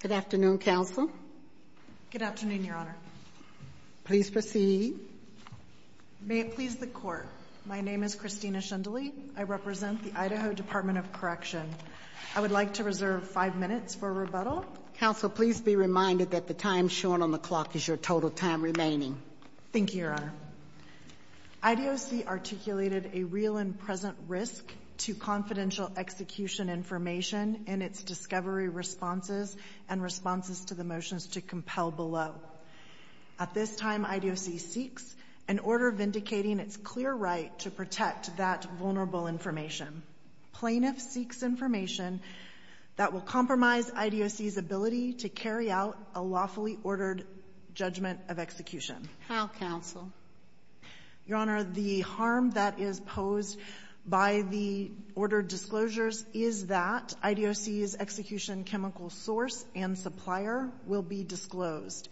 Good afternoon, Counsel. Good afternoon, Your Honor. Please proceed. May it please the Court. My name is Christina Shindley. I represent the Idaho Department of Correction. I would like to reserve five minutes for rebuttal. Counsel, please be reminded that the time shown on the clock is your total time remaining. Thank you, Your Honor. IDOC articulated a real and present risk to confidential execution information in its discovery responses and responses to the motions to compel below. At this time, IDOC seeks an order vindicating its clear right to protect that vulnerable information. Plaintiffs seeks information that will compromise IDOC's ability to carry out a lawfully ordered judgment of execution. How, Counsel? Your Honor, the harm that is posed by the ordered disclosures is that IDOC's execution chemical source and supplier will be disclosed.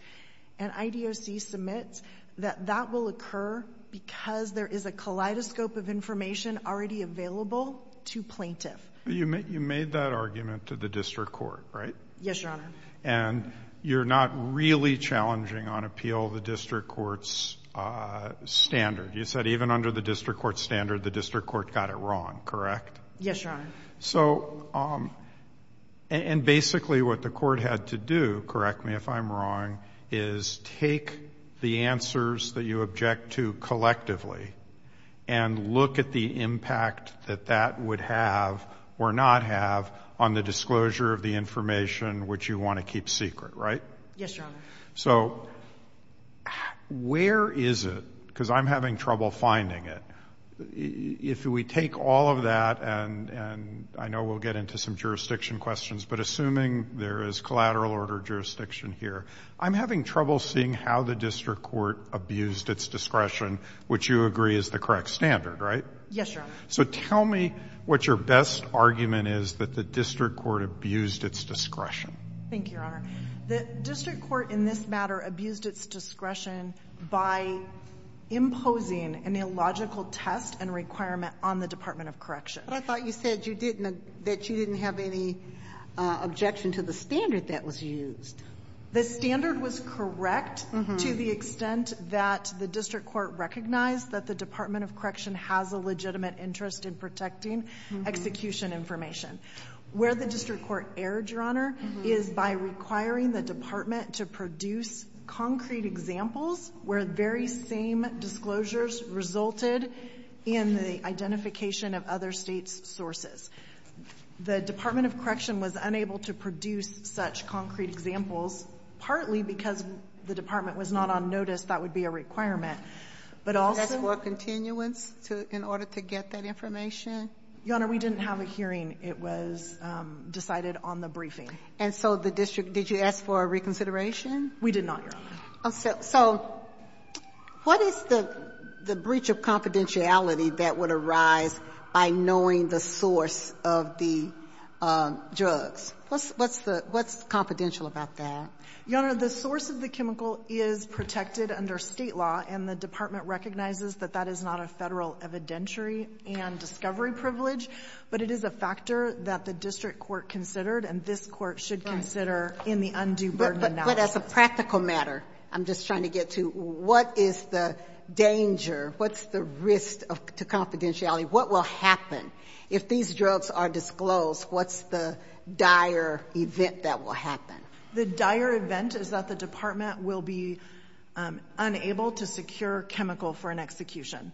And IDOC submits that that will occur because there is a kaleidoscope of information already available to plaintiff. You made that argument to the district court, right? Yes, Your Honor. And you're not really challenging on appeal the district court's standard. You said even under the district court standard, the district court got it wrong, correct? Yes, Your Honor. So, and basically what the court had to do, correct me if I'm wrong, is take the answers that you object to collectively and look at the impact that that would have or not have on the disclosure of the information which you want to keep secret, right? Yes, Your Honor. So where is it? Because I'm having trouble finding it. If we take all of that, and I know we'll get into some jurisdiction questions, but assuming there is collateral order jurisdiction here, I'm having trouble seeing how the district court abused its discretion, which you agree is the correct standard, right? Yes, Your Honor. So tell me what your best argument is that the district court abused its discretion. Thank you, Your Honor. The district court in this matter abused its discretion by imposing an illogical test and requirement on the Department of Correction. But I thought you said you didn't, that you didn't have any objection to the standard that was used. The standard was correct to the extent that the district court recognized that the Department of Correction has a legitimate interest in protecting execution information. Where the district court erred, Your Honor, is by requiring the Department to produce concrete examples where very same disclosures resulted in the identification of other States' sources. The Department of Correction was unable to produce such concrete examples, partly because the Department was not on notice that would be a requirement, but also the Department of Correction Your Honor, we didn't have a hearing. It was decided on the briefing. And so the district, did you ask for a reconsideration? We did not, Your Honor. So what is the breach of confidentiality that would arise by knowing the source of the drugs? What's the, what's confidential about that? Your Honor, the source of the chemical is protected under State law, and the Department recognizes that that is not a federal evidentiary and discovery privilege, but it is a factor that the district court considered, and this court should consider in the undue burden analysis. But as a practical matter, I'm just trying to get to, what is the danger, what's the risk to confidentiality? What will happen if these drugs are disclosed? What's the dire event that will happen? The dire event is that the department will be unable to secure chemical for an execution,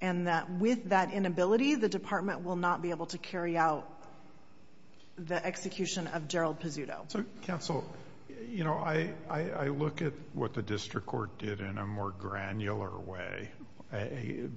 and that with that inability, the department will not be able to carry out the execution of Gerald Pizzuto. So counsel, you know, I look at what the district court did in a more granular way,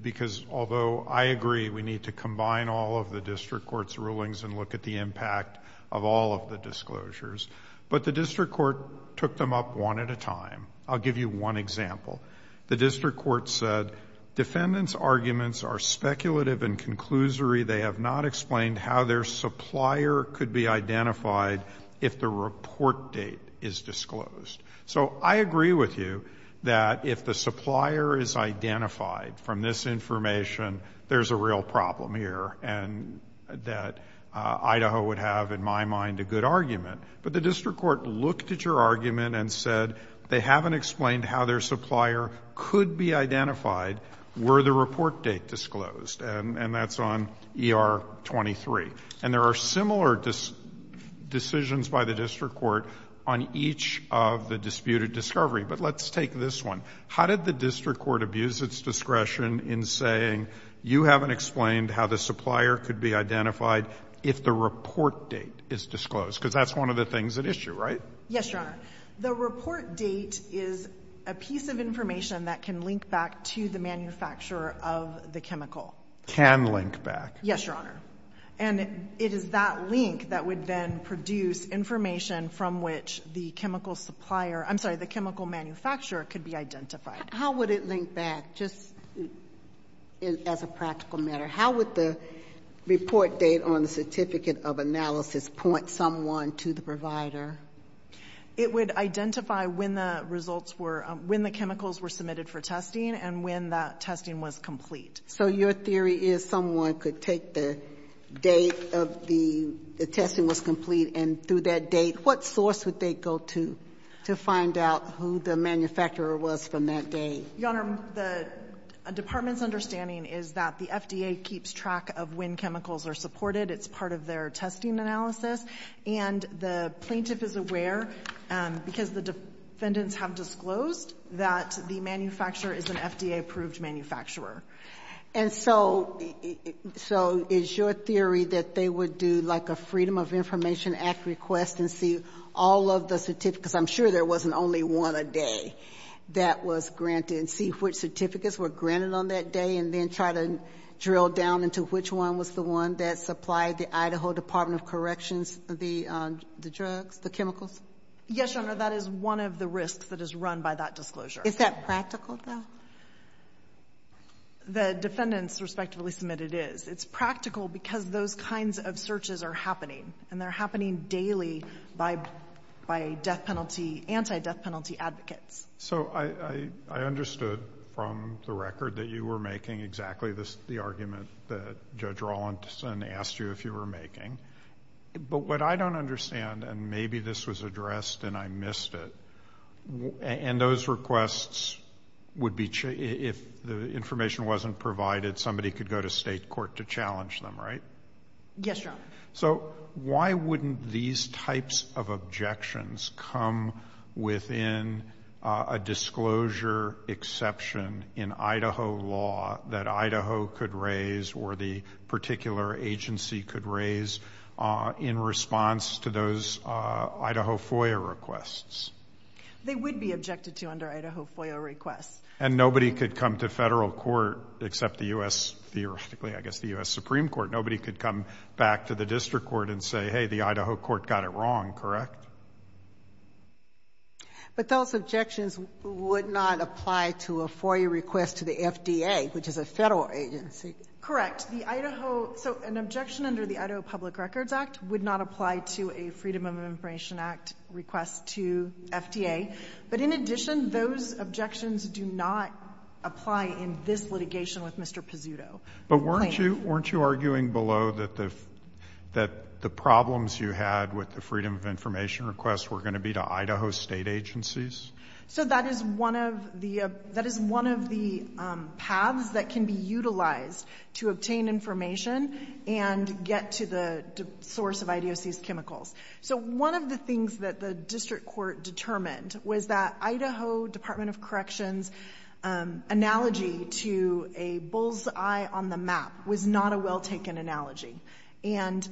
because although I agree we need to combine all of the district court's rulings and look at the impact of all of the disclosures, but the district court took them up one at a time. I'll give you one example. The district court said, defendants' arguments are speculative and conclusory. They have not explained how their supplier could be identified if the report date is disclosed. So I agree with you that if the supplier is identified from this information, there's a real problem here, and that Idaho would have, in my mind, a good argument. But the district court looked at your argument and said they haven't explained how their supplier could be identified were the report date disclosed, and that's on ER 23. And there are similar decisions by the district court on each of the disputed discovery. But let's take this one. How did the district court abuse its discretion in saying, you haven't explained how the supplier could be identified if the report date is disclosed? Because that's one of the things at issue, right? Yes, Your Honor. The report date is a piece of information that can link back to the manufacturer of the chemical. Can link back. Yes, Your Honor. And it is that link that would then produce information from which the chemical supplier — I'm sorry, the chemical manufacturer could be identified. How would it link back, just as a practical matter? How would the report date on the certificate of analysis point someone to the provider? It would identify when the results were — when the chemicals were submitted for testing and when that testing was complete. So your theory is someone could take the date of the — the testing was complete, and through that date, what source would they go to to find out who the manufacturer was from that date? Your Honor, the department's understanding is that the FDA keeps track of when chemicals are supported. It's part of their testing analysis. And the plaintiff is aware, because the defendants have disclosed, that the manufacturer is an FDA-approved manufacturer. And so — so is your theory that they would do, like, a Freedom of Information Act request and see all of the certificates? I'm sure there wasn't only one a day. That was granted. And see which certificates were granted on that day, and then try to drill down into which one was the one that supplied the Idaho Department of Corrections the drugs, the chemicals? Yes, Your Honor. That is one of the risks that is run by that disclosure. Is that practical, though? The defendants, respectively, submit it is. It's practical because those kinds of searches are happening. And they're happening daily by death penalty — anti-death penalty advocates. So I understood from the record that you were making exactly the argument that Judge Rawlinson asked you if you were making. But what I don't understand — and maybe this was addressed and I missed it — and those requests would be — if the information wasn't provided, somebody could go to state court to challenge them, right? Yes, Your Honor. So why wouldn't these types of objections come within a disclosure exception in Idaho law that Idaho could raise or the particular agency could raise in response to those Idaho FOIA requests? They would be objected to under Idaho FOIA requests. And nobody could come to federal court except the U.S. — theoretically, I guess, the U.S. Supreme Court. Nobody could come back to the district court and say, hey, the Idaho court got it wrong, correct? But those objections would not apply to a FOIA request to the FDA, which is a federal agency. Correct. The Idaho — so an objection under the Idaho Public Records Act would not apply to a Freedom of Information Act request to FDA. But in addition, those objections do not apply in this litigation with Mr. Pizzuto. But weren't you — weren't you arguing below that the — that the problems you had with the freedom of information requests were going to be to Idaho state agencies? So that is one of the — that is one of the paths that can be utilized to obtain information and get to the source of IDOC's chemicals. So one of the things that the district court determined was that Idaho Department of Corrections' analogy to a bull's-eye on the map was not a well-taken analogy. And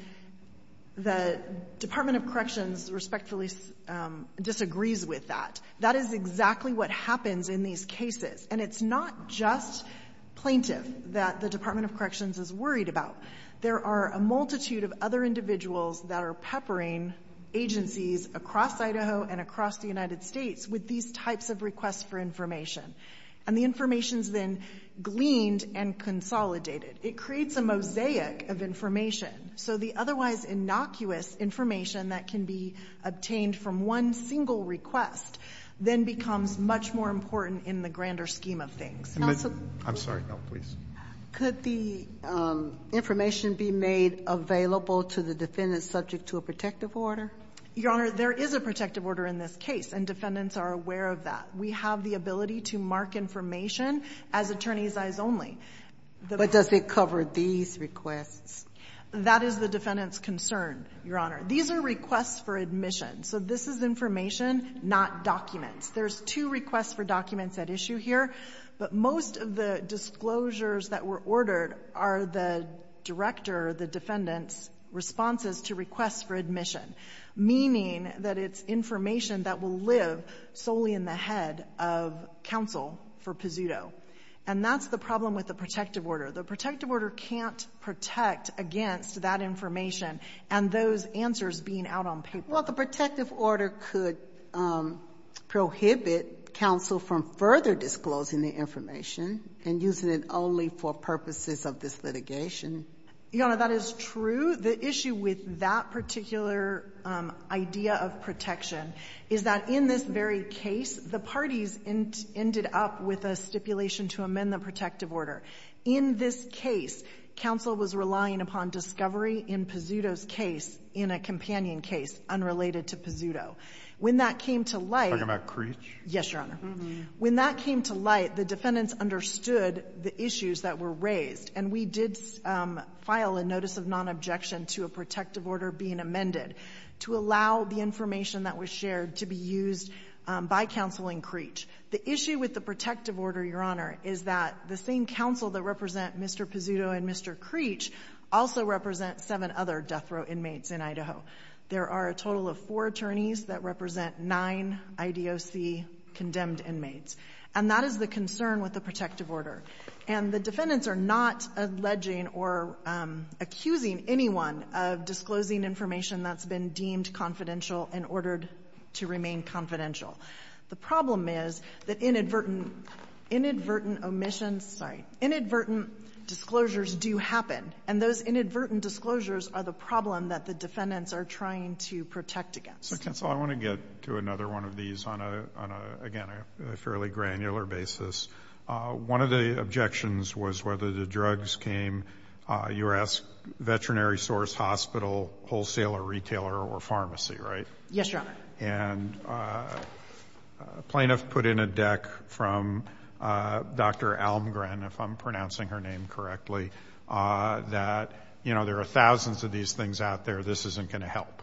the Department of Corrections respectfully disagrees with that. That is exactly what happens in these cases. And it's not just plaintiff that the Department of Corrections is worried about. There are a multitude of other individuals that are peppering agencies across Idaho and across the United States with these types of requests for information. And the information is then gleaned and consolidated. It creates a mosaic of information. So the otherwise innocuous information that can be obtained from one single request then becomes much more important in the grander scheme of things. I'm sorry. No, please. Could the information be made available to the defendant subject to a protective order? Your Honor, there is a protective order in this case, and defendants are aware of that. We have the ability to mark information as attorney's eyes only. But does it cover these requests? That is the defendant's concern, Your Honor. These are requests for admission. So this is information, not documents. There's two requests for documents at issue here. But most of the disclosures that were ordered are the director, the defendant's responses to requests for admission. Meaning that it's information that will live solely in the head of counsel for Pazuto. And that's the problem with the protective order. The protective order can't protect against that information and those answers being out on paper. Well, the protective order could prohibit counsel from further disclosing the information and using it only for purposes of this litigation. Your Honor, that is true. The issue with that particular idea of protection is that in this very case, the parties ended up with a stipulation to amend the protective order. In this case, counsel was relying upon discovery in Pazuto's case, in a companion case unrelated to Pazuto. When that came to light — Are you talking about Creech? Yes, Your Honor. When that came to light, the defendants understood the issues that were raised. And we did file a notice of non-objection to a protective order being amended to allow the information that was shared to be used by counsel in Creech. The issue with the protective order, Your Honor, is that the same counsel that represent Mr. Pazuto and Mr. Creech also represent seven other death row inmates in Idaho. There are a total of four attorneys that represent nine IDOC condemned inmates. And that is the concern with the protective order. And the defendants are not alleging or accusing anyone of disclosing information that's been deemed confidential in order to remain confidential. The problem is that inadvertent — inadvertent omissions — sorry — inadvertent disclosures do happen. And those inadvertent disclosures are the problem that the defendants are trying to protect against. So, counsel, I want to get to another one of these on a — on a, again, a fairly granular basis. One of the objections was whether the drugs came, you asked veterinary source, hospital, wholesaler, retailer, or pharmacy, right? Yes, Your Honor. And a plaintiff put in a deck from Dr. Almgren, if I'm pronouncing her name correctly, that, you know, there are thousands of these things out there. This isn't going to help.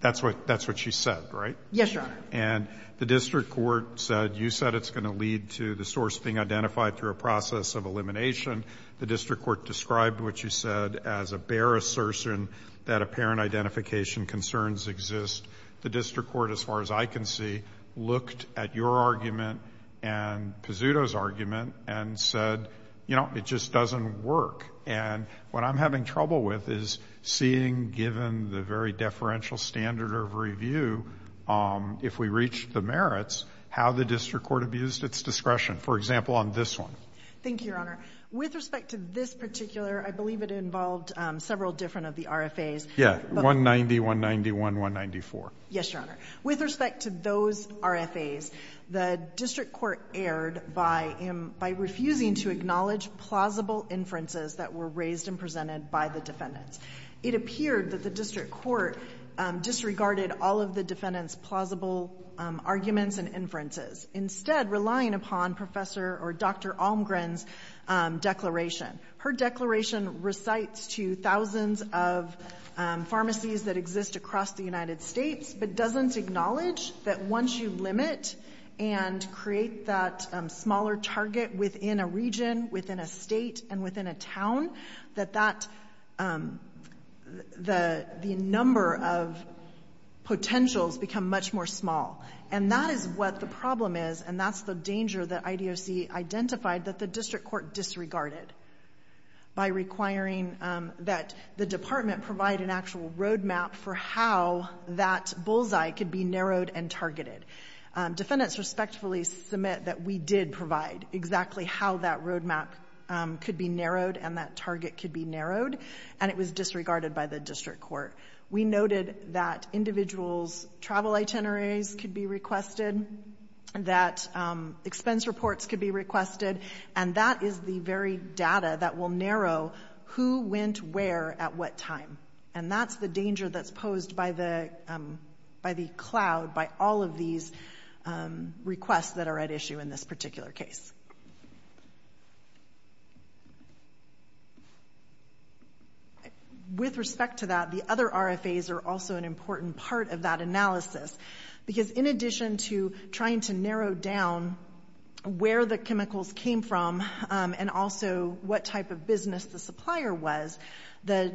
That's what — that's what she said, right? Yes, Your Honor. And the district court said, you said it's going to lead to the source being identified through a process of elimination. The district court described what you said as a bare assertion that apparent identification concerns exist. The district court, as far as I can see, looked at your argument and Pizzuto's argument and said, you know, it just doesn't work. And what I'm having trouble with is seeing, given the very deferential standard of review, if we reach the merits, how the district court abused its discretion, for example, on this one. Thank you, Your Honor. With respect to this particular — I believe it involved several different of the RFAs. Yeah. 190, 191, 194. Yes, Your Honor. With respect to those RFAs, the district court erred by — by refusing to acknowledge plausible inferences that were raised and presented by the defendants. It appeared that the district court disregarded all of the defendants' plausible arguments and inferences, instead relying upon Professor — or Dr. Almgren's declaration. Her declaration recites to thousands of pharmacies that exist across the United States, but doesn't acknowledge that once you limit and create that smaller target within a region, within a state, and within a town, that that — the number of potentials become much more small. And that is what the problem is, and that's the danger that IDOC identified, that the district court disregarded by requiring that the department provide an actual roadmap for how that bullseye could be narrowed and targeted. Defendants respectfully submit that we did provide exactly how that roadmap could be narrowed and that target could be narrowed, and it was disregarded by the district court. We noted that individuals' travel itineraries could be requested, that expense reports could be requested, and that is the very data that will narrow who went where at what time. And that's the danger that's posed by the cloud, by all of these requests that are at issue in this particular case. With respect to that, the other RFAs are also an important part of that analysis, because in addition to trying to narrow down where the chemicals came from and also what type of business the supplier was, the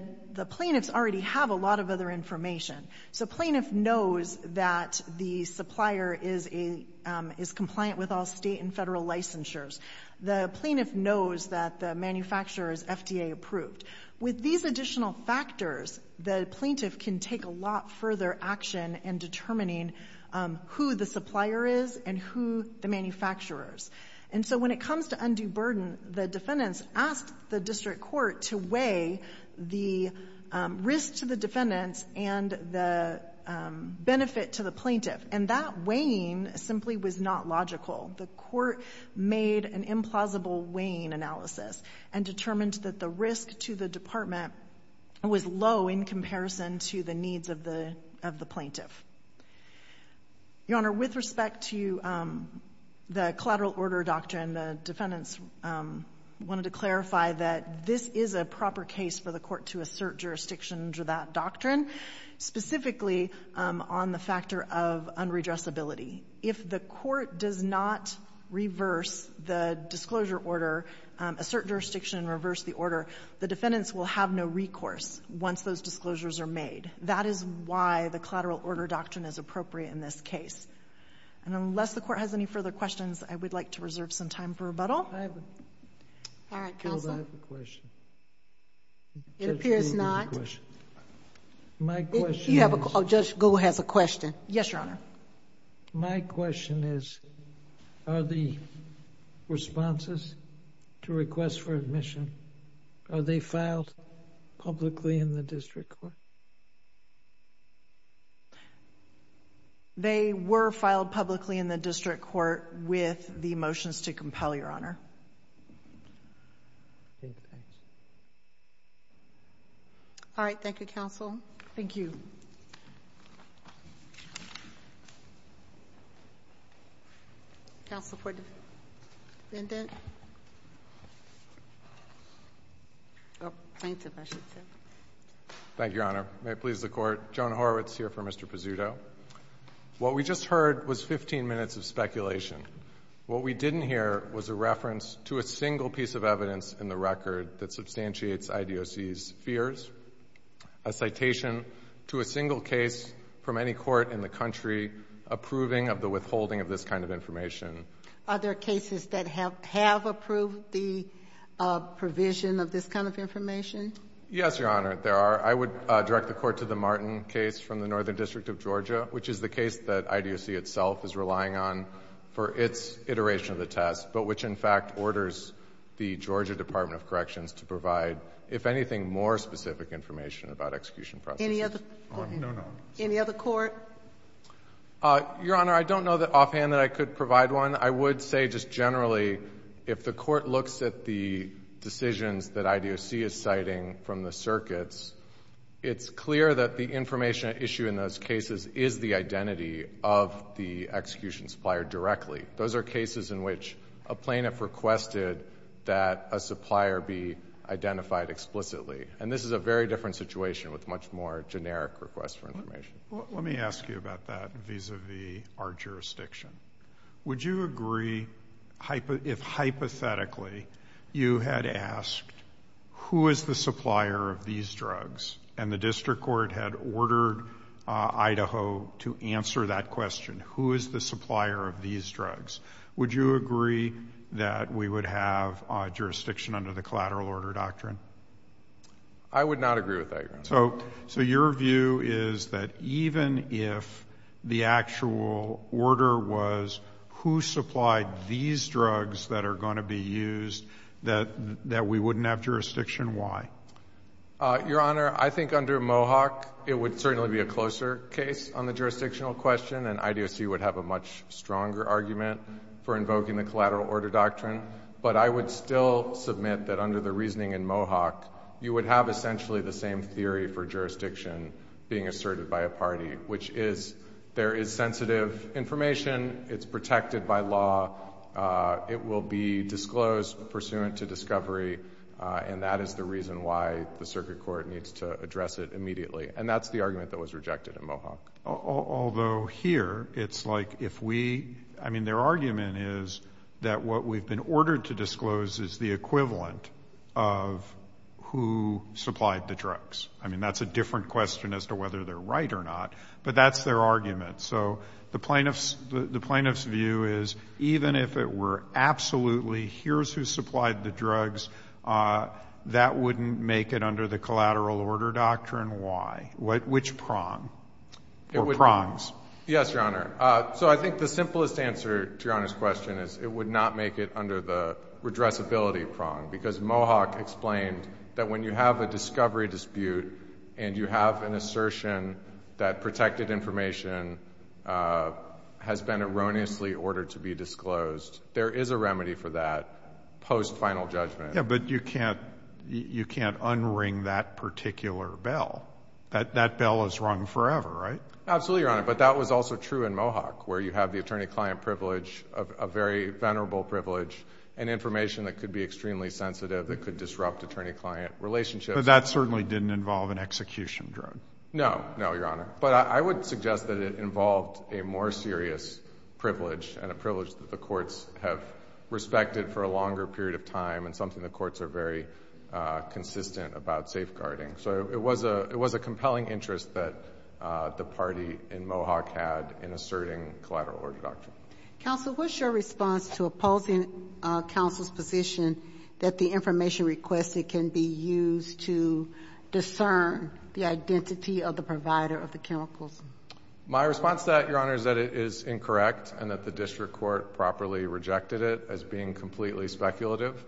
plaintiffs already have a lot of other information. So plaintiff knows that the supplier is compliant with all state and federal licensures. The plaintiff knows that the manufacturer is FDA approved. With these additional factors, the plaintiff can take a lot further action in determining who the supplier is and who the manufacturers. And so when it comes to undue burden, the defendants asked the district court to weigh the risk to the defendants and the benefit to the plaintiff. And that weighing simply was not logical. The court made an implausible weighing analysis and determined that the risk to the department was low in comparison to the needs of the plaintiff. Your Honor, with respect to the collateral order doctrine, the defendants wanted to clarify that this is a proper case for the court to assert jurisdiction under that doctrine, specifically on the factor of unredressability. If the court does not reverse the disclosure order, assert jurisdiction and reverse the order, the defendants will have no recourse once those disclosures are made. That is why the collateral order doctrine is appropriate in this case. And unless the court has any further questions, I would like to reserve some time for rebuttal. All right, counsel. I have a question. It appears not. Judge Gould has a question. My question is... Oh, Judge Gould has a question. Yes, Your Honor. My question is, are the responses to requests for admission, are they filed publicly in the district court? They were filed publicly in the district court with the motions to compel, Your Honor. All right, thank you, counsel. Thank you. Counsel for the defendant? Plaintiff, I should say. Thank you, Your Honor. Thank you, Your Honor. Can I please have one question, please, Judge Gould? What we did here, Your Honor, may it please the Court, Joan Horwitz here for Mr. Pizzuto, what we just heard was 15 minutes of speculation. What we didn't hear was a reference to a single piece of evidence in the record that substantiates IDOC's fears, a citation to a single case from any court in the country approving of the withholding of this kind of information. Are there cases that have approved the provision of this kind of information? Yes, Your Honor, there are. I would direct the Court to the Martin case from the Northern District of Georgia, which is the case that IDOC itself is relying on for its iteration of the test, but which in fact orders the Georgia Department of Corrections to provide, if anything, more specific information about execution processes. Any other court? Your Honor, I don't know offhand that I could provide one. I would say just generally if the Court looks at the decisions that IDOC is citing from the circuits, it's clear that the information at issue in those cases is the identity of the execution supplier directly. Those are cases in which a plaintiff requested that a supplier be identified explicitly, and this is a very different situation with much more generic requests for information. Let me ask you about that vis-à-vis our jurisdiction. Would you agree if hypothetically you had asked who is the supplier of these drugs and the district court had ordered Idaho to answer that question, who is the supplier of these drugs, would you agree that we would have a jurisdiction under the collateral order doctrine? I would not agree with that, Your Honor. So your view is that even if the actual order was who supplied these drugs that are going to be used, that we wouldn't have jurisdiction? Why? Your Honor, I think under Mohawk it would certainly be a closer case on the jurisdictional question, and IDOC would have a much stronger argument for invoking the collateral order doctrine. But I would still submit that under the reasoning in Mohawk you would have essentially the same theory for jurisdiction being asserted by a party, which is there is sensitive information, it's protected by law, it will be disclosed pursuant to discovery, and that is the reason why the circuit court needs to address it immediately. And that's the argument that was rejected in Mohawk. Although here it's like if we — I mean, their argument is that what we've been ordered to disclose is the equivalent of who supplied the drugs. I mean, that's a different question as to whether they're right or not. But that's their argument. So the plaintiff's view is even if it were absolutely here's who supplied the drugs, that wouldn't make it under the collateral order doctrine. Why? Which prong or prongs? Yes, Your Honor. So I think the simplest answer to Your Honor's question is it would not make it under the redressability prong because Mohawk explained that when you have a discovery dispute and you have an assertion that protected information has been erroneously ordered to be disclosed, there is a remedy for that post-final judgment. Yeah, but you can't un-ring that particular bell. That bell is rung forever, right? Absolutely, Your Honor. But that was also true in Mohawk where you have the attorney-client privilege, a very venerable privilege, and information that could be extremely sensitive that could disrupt attorney-client relationships. But that certainly didn't involve an execution drone. No, no, Your Honor. But I would suggest that it involved a more serious privilege and a privilege that the courts have respected for a longer period of time and something the courts are very consistent about safeguarding. So it was a compelling interest that the party in Mohawk had in asserting collateral order doctrine. Counsel, what's your response to opposing counsel's position that the information requested can be used to discern the identity of the provider of the chemicals? My response to that, Your Honor, is that it is incorrect and that the district court properly rejected it as being completely speculative.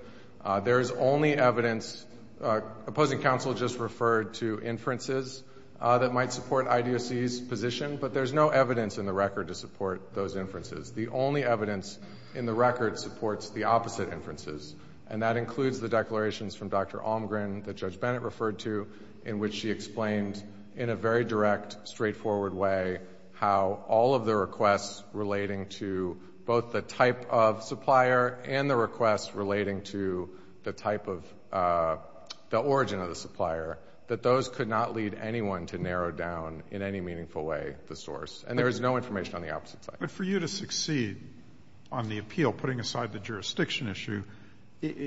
There is only evidence, opposing counsel just referred to inferences that might support IDOC's position, but there's no evidence in the record to support those inferences. The only evidence in the record supports the opposite inferences, and that includes the declarations from Dr. Almgren that Judge Bennett referred to in which she explained in a very direct, straightforward way how all of the requests relating to both the type of supplier and the requests relating to the type of origin of the supplier, that those could not lead anyone to narrow down in any meaningful way the source. And there is no information on the opposite side. But for you to succeed on the appeal, putting aside the jurisdiction issue,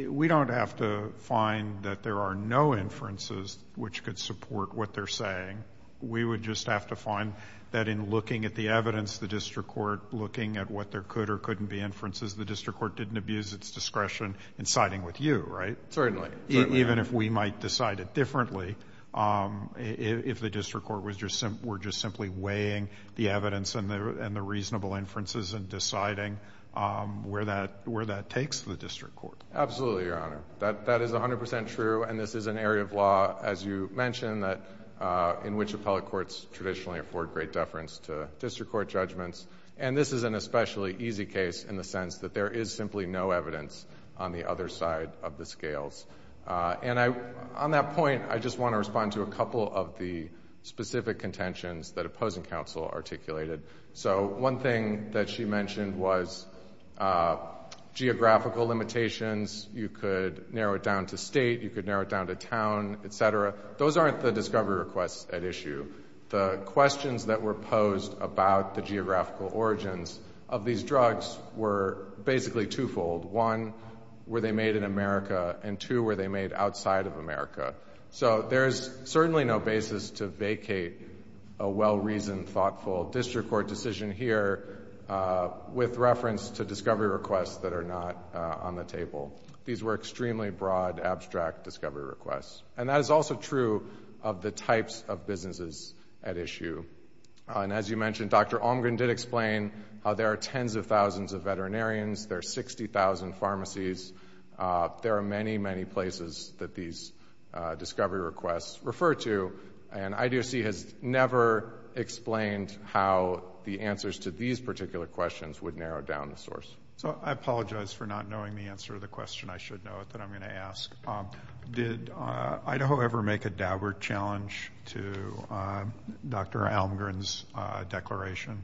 we don't have to find that there are no inferences which could support what they're saying. We would just have to find that in looking at the evidence, the district court looking at what there could or couldn't be inferences, the district court didn't abuse its discretion in siding with you, right? Certainly. Even if we might decide it differently, if the district court were just simply weighing the evidence and the reasonable inferences and deciding where that takes the district court. Absolutely, Your Honor. That is 100 percent true, and this is an area of law, as you mentioned, that in which appellate courts traditionally afford great deference to district court judgments. And this is an especially easy case in the sense that there is simply no evidence on the other side of the scales. And on that point, I just want to respond to a couple of the specific contentions that opposing counsel articulated. So one thing that she mentioned was geographical limitations. You could narrow it down to state. You could narrow it down to town, et cetera. Those aren't the discovery requests at issue. The questions that were posed about the geographical origins of these drugs were basically twofold. One, were they made in America? And two, were they made outside of America? So there's certainly no basis to vacate a well-reasoned, thoughtful district court decision here with reference to discovery requests that are not on the table. These were extremely broad, abstract discovery requests. And that is also true of the types of businesses at issue. And as you mentioned, Dr. Almgren did explain how there are tens of thousands of veterinarians. There are 60,000 pharmacies. There are many, many places that these discovery requests refer to. And IDOC has never explained how the answers to these particular questions would narrow down the source. So I apologize for not knowing the answer to the question. I should know it, but I'm going to ask. Did Idaho ever make a downward challenge to Dr. Almgren's declaration?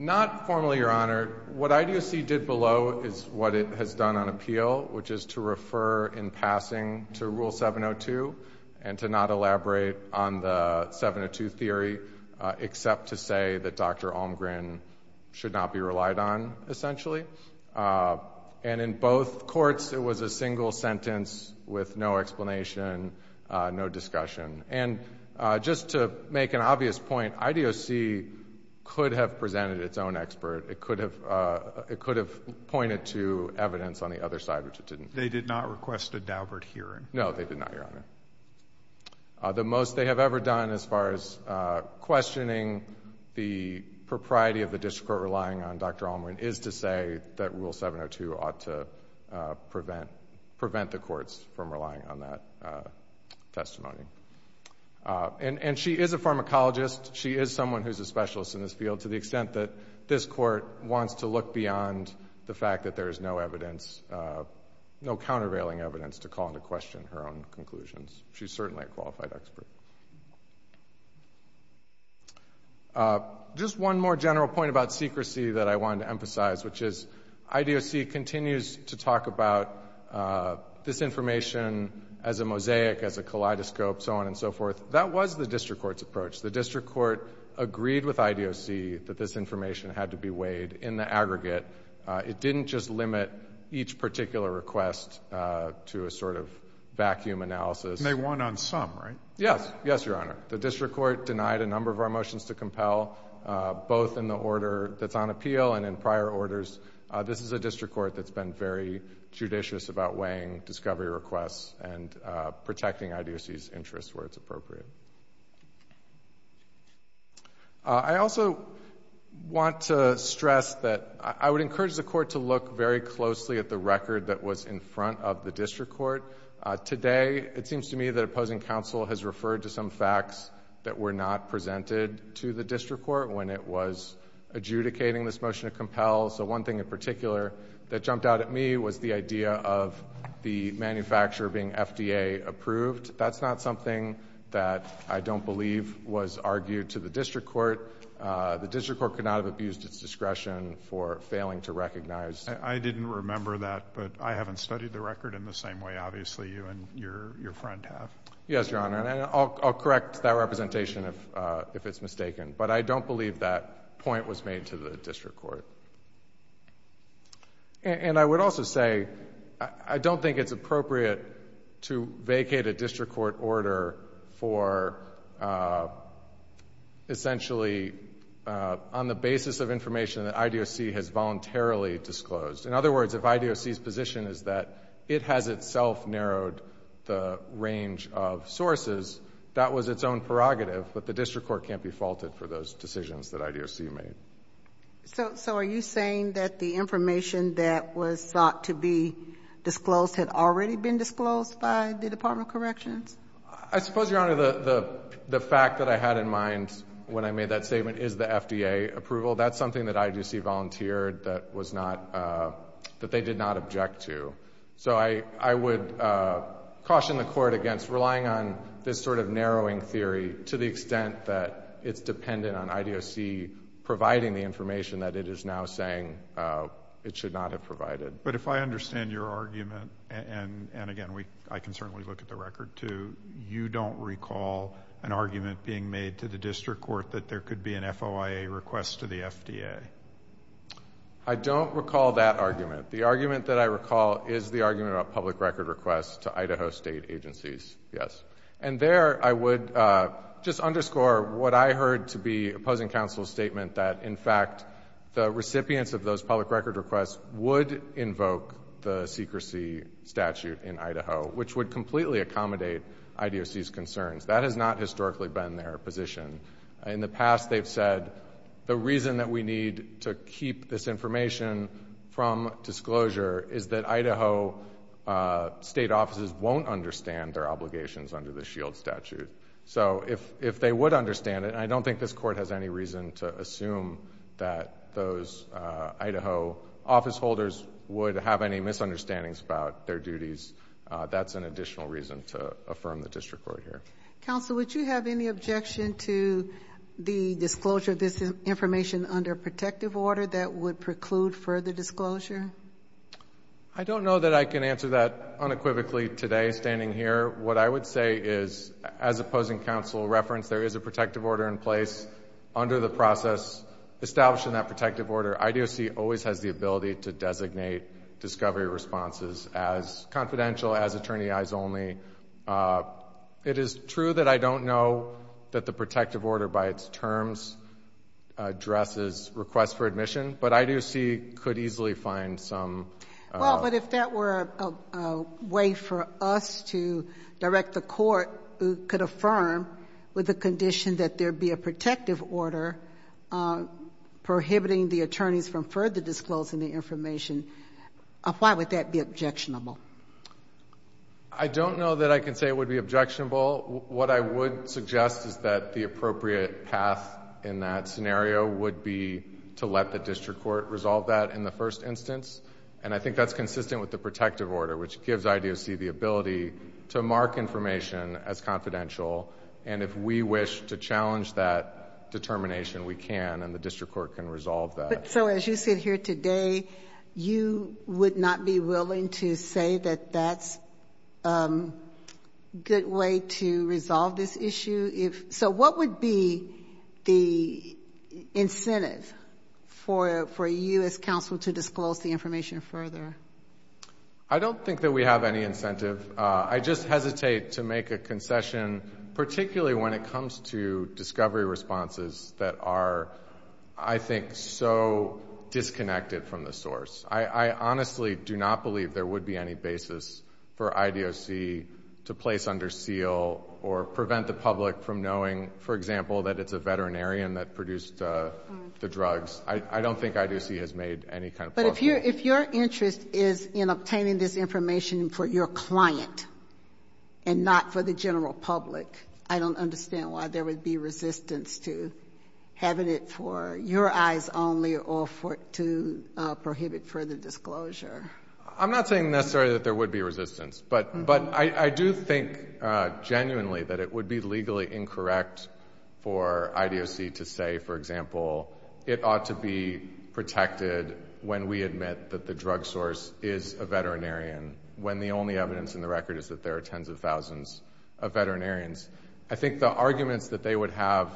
Not formally, Your Honor. What IDOC did below is what it has done on appeal, which is to refer in passing to Rule 702 and to not elaborate on the 702 theory except to say that Dr. Almgren should not be relied on, essentially. And in both courts, it was a single sentence with no explanation, no discussion. And just to make an obvious point, IDOC could have presented its own expert. It could have pointed to evidence on the other side, which it didn't. They did not request a downward hearing? No, they did not, Your Honor. The most they have ever done as far as questioning the propriety of the district court relying on Dr. Almgren is to say that Rule 702 ought to prevent the courts from relying on that testimony. And she is a pharmacologist. She is someone who is a specialist in this field to the extent that this court wants to look beyond the fact that there is no evidence, no countervailing evidence to call into question her own conclusions. She is certainly a qualified expert. Just one more general point about secrecy that I wanted to emphasize, which is IDOC continues to talk about this information as a mosaic, as a kaleidoscope, so on and so forth. That was the district court's approach. The district court agreed with IDOC that this information had to be weighed in the aggregate. It didn't just limit each particular request to a sort of vacuum analysis. And they won on some, right? Yes. Yes, Your Honor. The district court denied a number of our motions to compel, both in the order that's on appeal and in prior orders. This is a district court that's been very judicious about weighing discovery requests and protecting IDOC's interests where it's appropriate. I also want to stress that I would encourage the court to look very closely at the record that was in front of the district court. Today, it seems to me that opposing counsel has referred to some facts that were not presented to the district court when it was adjudicating this motion to So one thing in particular that jumped out at me was the idea of the manufacturer being FDA approved. That's not something that I don't believe was argued to the district court. The district court could not have abused its discretion for failing to recognize. I didn't remember that, but I haven't studied the record in the same way, obviously, you and your friend have. Yes, Your Honor. And I'll correct that representation if it's mistaken. But I don't believe that point was made to the district court. And I would also say I don't think it's appropriate to vacate a district court order for essentially on the basis of information that IDOC has voluntarily disclosed. In other words, if IDOC's position is that it has itself narrowed the range of sources, that was its own prerogative. But the district court can't be faulted for those decisions that IDOC made. So are you saying that the information that was thought to be disclosed had already been disclosed by the Department of Corrections? I suppose, Your Honor, the fact that I had in mind when I made that statement is the FDA approval. That's something that IDOC volunteered that they did not object to. So I would caution the court against relying on this sort of narrowing theory to the extent that it's dependent on IDOC providing the information that it is now saying it should not have provided. But if I understand your argument, and, again, I can certainly look at the record too, you don't recall an argument being made to the district court that there should be an FOIA request to the FDA. I don't recall that argument. The argument that I recall is the argument about public record requests to Idaho state agencies, yes. And there I would just underscore what I heard to be opposing counsel's statement that, in fact, the recipients of those public record requests would invoke the secrecy statute in Idaho, which would completely accommodate IDOC's concerns. That has not historically been their position. In the past, they've said the reason that we need to keep this information from disclosure is that Idaho state offices won't understand their obligations under the S.H.I.E.L.D. statute. So if they would understand it, and I don't think this Court has any reason to assume that those Idaho officeholders would have any misunderstandings about their duties, that's an additional reason to affirm the district court here. Counsel, would you have any objection to the disclosure of this information under protective order that would preclude further disclosure? I don't know that I can answer that unequivocally today, standing here. What I would say is, as opposing counsel referenced, there is a protective order in place under the process establishing that protective order. IDOC always has the ability to designate discovery responses as confidential, as attorney-eyes only. It is true that I don't know that the protective order by its terms addresses requests for admission, but IDOC could easily find some. Well, but if that were a way for us to direct the court who could affirm with the condition that there be a protective order prohibiting the attorneys from further disclosing the information, why would that be objectionable? I don't know that I can say it would be objectionable. What I would suggest is that the appropriate path in that scenario would be to let the district court resolve that in the first instance, and I think that's consistent with the protective order, which gives IDOC the ability to mark information as confidential, and if we wish to challenge that determination, we can, and the district court can resolve that. So as you sit here today, you would not be willing to say that that's a good way to resolve this issue? So what would be the incentive for you as counsel to disclose the information further? I don't think that we have any incentive. I just hesitate to make a concession, particularly when it comes to discovery responses that are, I think, so disconnected from the source. I honestly do not believe there would be any basis for IDOC to place under seal or prevent the public from knowing, for example, that it's a veterinarian that produced the drugs. I don't think IDOC has made any kind of proclamation. But if your interest is in obtaining this information for your client and not for the general public, I don't understand why there would be resistance to having it for your eyes only or to prohibit further disclosure. I'm not saying necessarily that there would be resistance. But I do think genuinely that it would be legally incorrect for IDOC to say, for example, it ought to be protected when we admit that the drug source is a veterinarian, when the only evidence in the record is that there are tens of thousands of veterinarians. I think the arguments that they would have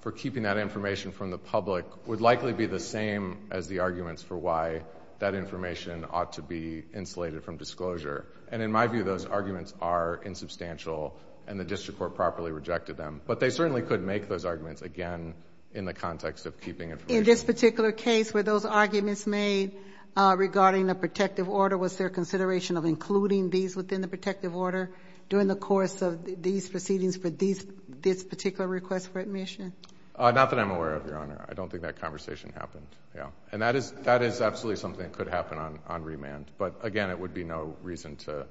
for keeping that information from the public would likely be the same as the arguments for why that information ought to be insulated from disclosure. And in my view, those arguments are insubstantial, and the district court properly rejected them. But they certainly could make those arguments again in the context of keeping information. In this particular case, were those arguments made regarding the protective order, or was there consideration of including these within the protective order during the course of these proceedings for this particular request for admission? Not that I'm aware of, Your Honor. I don't think that conversation happened. And that is absolutely something that could happen on remand. But, again, it would be no reason to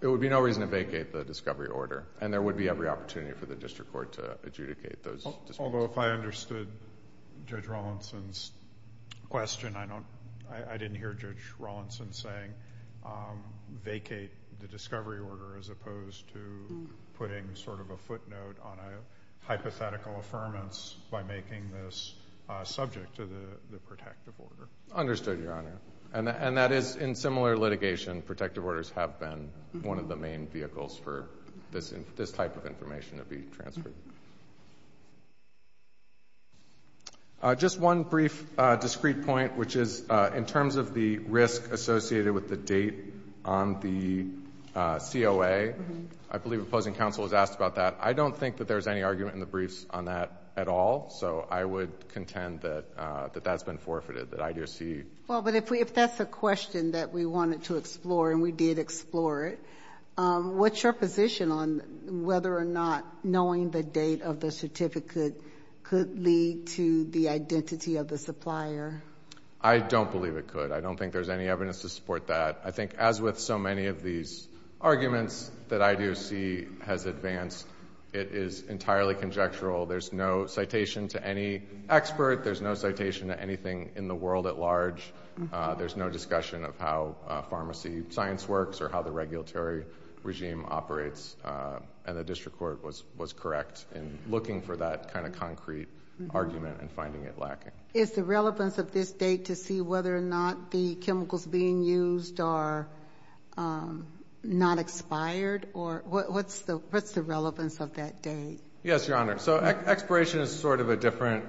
vacate the discovery order, and there would be every opportunity for the district court to adjudicate those. Although if I understood Judge Rawlinson's question, I didn't hear Judge Rawlinson saying vacate the discovery order as opposed to putting sort of a footnote on a hypothetical affirmance by making this subject to the protective order. Understood, Your Honor. And that is, in similar litigation, protective orders have been one of the main vehicles for this type of information to be transferred. Just one brief discrete point, which is in terms of the risk associated with the date on the COA, I believe opposing counsel was asked about that. I don't think that there's any argument in the briefs on that at all, so I would contend that that's been forfeited, that IDOC. Well, but if that's a question that we wanted to explore and we did explore it, what's your position on whether or not knowing the date of the certificate could lead to the identity of the supplier? I don't believe it could. I don't think there's any evidence to support that. I think as with so many of these arguments that IDOC has advanced, it is entirely conjectural. There's no citation to any expert. There's no citation to anything in the world at large. There's no discussion of how pharmacy science works or how the regulatory regime operates, and the district court was correct in looking for that kind of concrete argument and finding it lacking. Is the relevance of this date to see whether or not the chemicals being used are not expired, or what's the relevance of that date? Yes, Your Honor. So expiration is sort of a different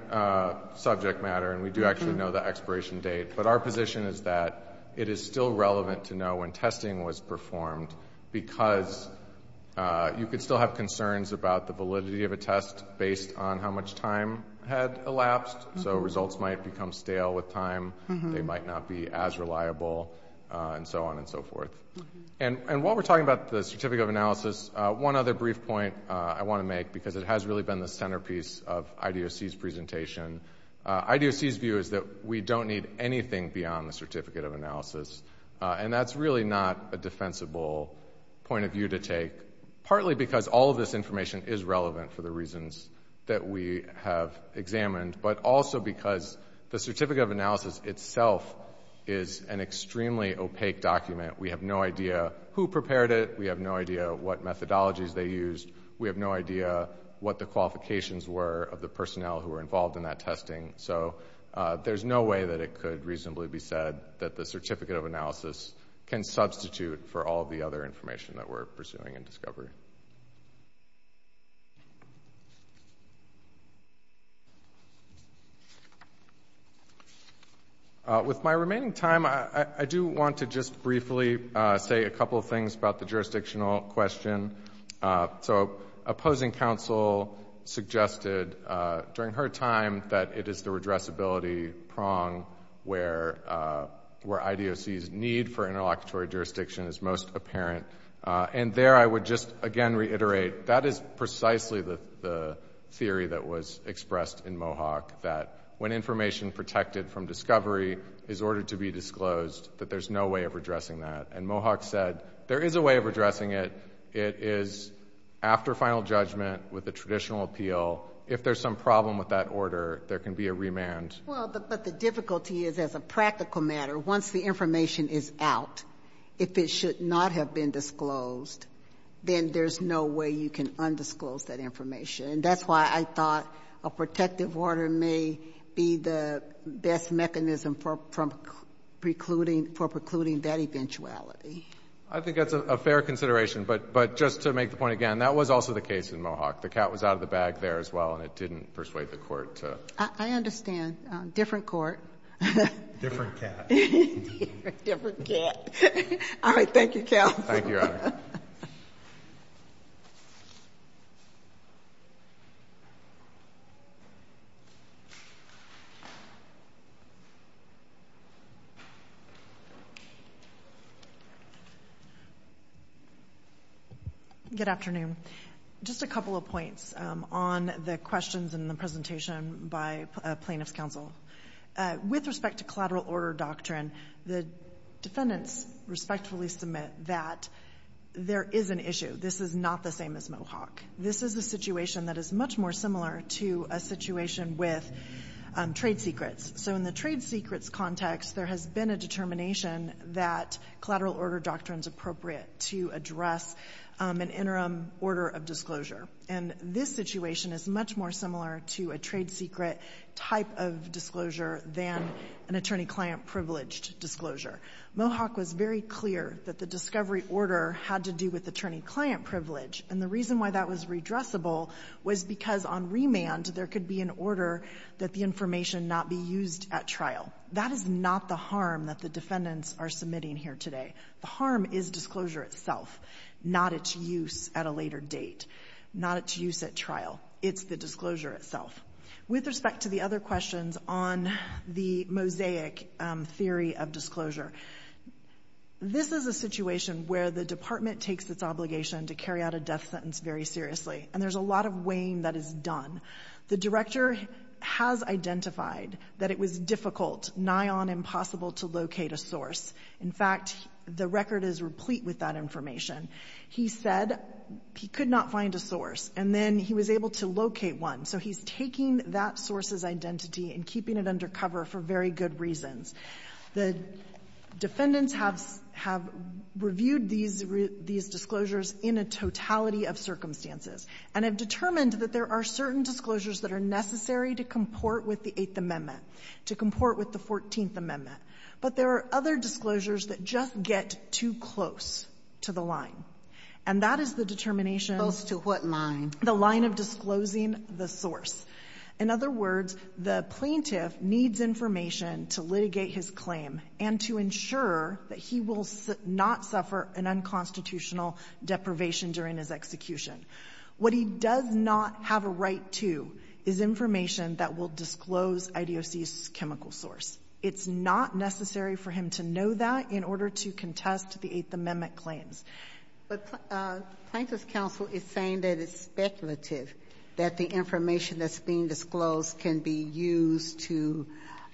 subject matter, and we do actually know the expiration date, but our position is that it is still relevant to know when testing was performed, because you could still have concerns about the validity of a test based on how much time had elapsed. So results might become stale with time. They might not be as reliable, and so on and so forth. And while we're talking about the certificate of analysis, one other brief point I want to make, because it has really been the centerpiece of IDOC's presentation, IDOC's view is that we don't need anything beyond the certificate of analysis, and that's really not a defensible point of view to take, partly because all of this information is relevant for the reasons that we have examined, but also because the certificate of analysis itself is an extremely opaque document. We have no idea who prepared it. We have no idea what methodologies they used. We have no idea what the qualifications were of the personnel who were involved in that testing. So there's no way that it could reasonably be said that the certificate of analysis can substitute for all of the other information that we're pursuing in discovery. With my remaining time, I do want to just briefly say a couple of things about the opposing counsel suggested during her time that it is the redressability prong where IDOC's need for interlocutory jurisdiction is most apparent. And there I would just again reiterate, that is precisely the theory that was expressed in Mohawk, that when information protected from discovery is ordered to be disclosed, that there's no way of redressing that. And Mohawk said there is a way of redressing it. It is after final judgment with a traditional appeal. If there's some problem with that order, there can be a remand. Well, but the difficulty is as a practical matter, once the information is out, if it should not have been disclosed, then there's no way you can undisclose that information. And that's why I thought a protective order may be the best mechanism for precluding that eventuality. I think that's a fair consideration. But just to make the point again, that was also the case in Mohawk. The cat was out of the bag there as well, and it didn't persuade the court to. I understand. Different court. Different cat. Different cat. All right. Thank you, counsel. Thank you, Your Honor. Good afternoon. Just a couple of points on the questions in the presentation by plaintiff's counsel. With respect to collateral order doctrine, the defendants respectfully submit that there is an issue. This is not the same as Mohawk. This is a situation that is much more similar to a situation with trade secrets. So in the trade secrets context, there has been a determination that collateral order doctrine is appropriate to address an interim order of disclosure. And this situation is much more similar to a trade secret type of disclosure than an attorney-client privileged disclosure. Mohawk was very clear that the discovery order had to do with attorney-client privilege. And the reason why that was redressable was because on remand, there could be an order that the information not be used at trial. That is not the harm that the defendants are submitting here today. The harm is disclosure itself, not its use at a later date, not its use at trial. It's the disclosure itself. With respect to the other questions on the mosaic theory of disclosure, this is a situation where the department takes its obligation to carry out a death sentence very seriously. And there's a lot of weighing that is done. The director has identified that it was difficult, nigh on impossible to locate a source. In fact, the record is replete with that information. He said he could not find a source, and then he was able to locate one. So he's taking that source's identity and keeping it under cover for very good reasons. The defendants have reviewed these disclosures in a totality of circumstances and have determined that there are certain disclosures that are necessary to comport with the Eighth Amendment, to comport with the Fourteenth Amendment. But there are other disclosures that just get too close to the line. And that is the determination of the line of disclosing the source. In other words, the plaintiff needs information to litigate his claim and to ensure that he will not suffer an unconstitutional deprivation during his execution. What he does not have a right to is information that will disclose IDOC's chemical source. It's not necessary for him to know that in order to contest the Eighth Amendment claims. But Plaintiff's counsel is saying that it's speculative that the information that's being disclosed can be used to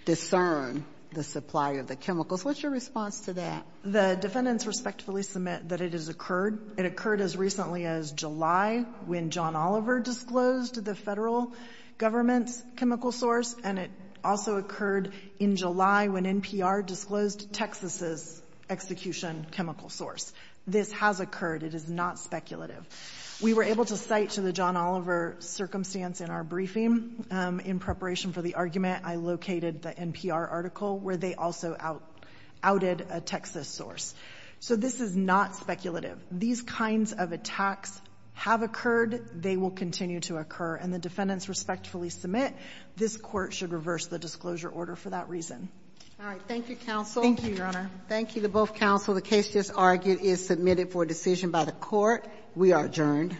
discern the supply of the chemicals. What's your response to that? The defendants respectfully submit that it has occurred. It occurred as recently as July when John Oliver disclosed the Federal government's chemical source, and it also occurred in July when NPR disclosed Texas's execution chemical source. This has occurred. It is not speculative. We were able to cite to the John Oliver circumstance in our briefing, in preparation for the argument, I located the NPR article where they also outed a Texas source. So this is not speculative. These kinds of attacks have occurred. They will continue to occur. And the defendants respectfully submit this Court should reverse the disclosure order for that reason. All right. Thank you, counsel. Thank you, Your Honor. Thank you to both counsel. The case just argued is submitted for decision by the Court. We are adjourned.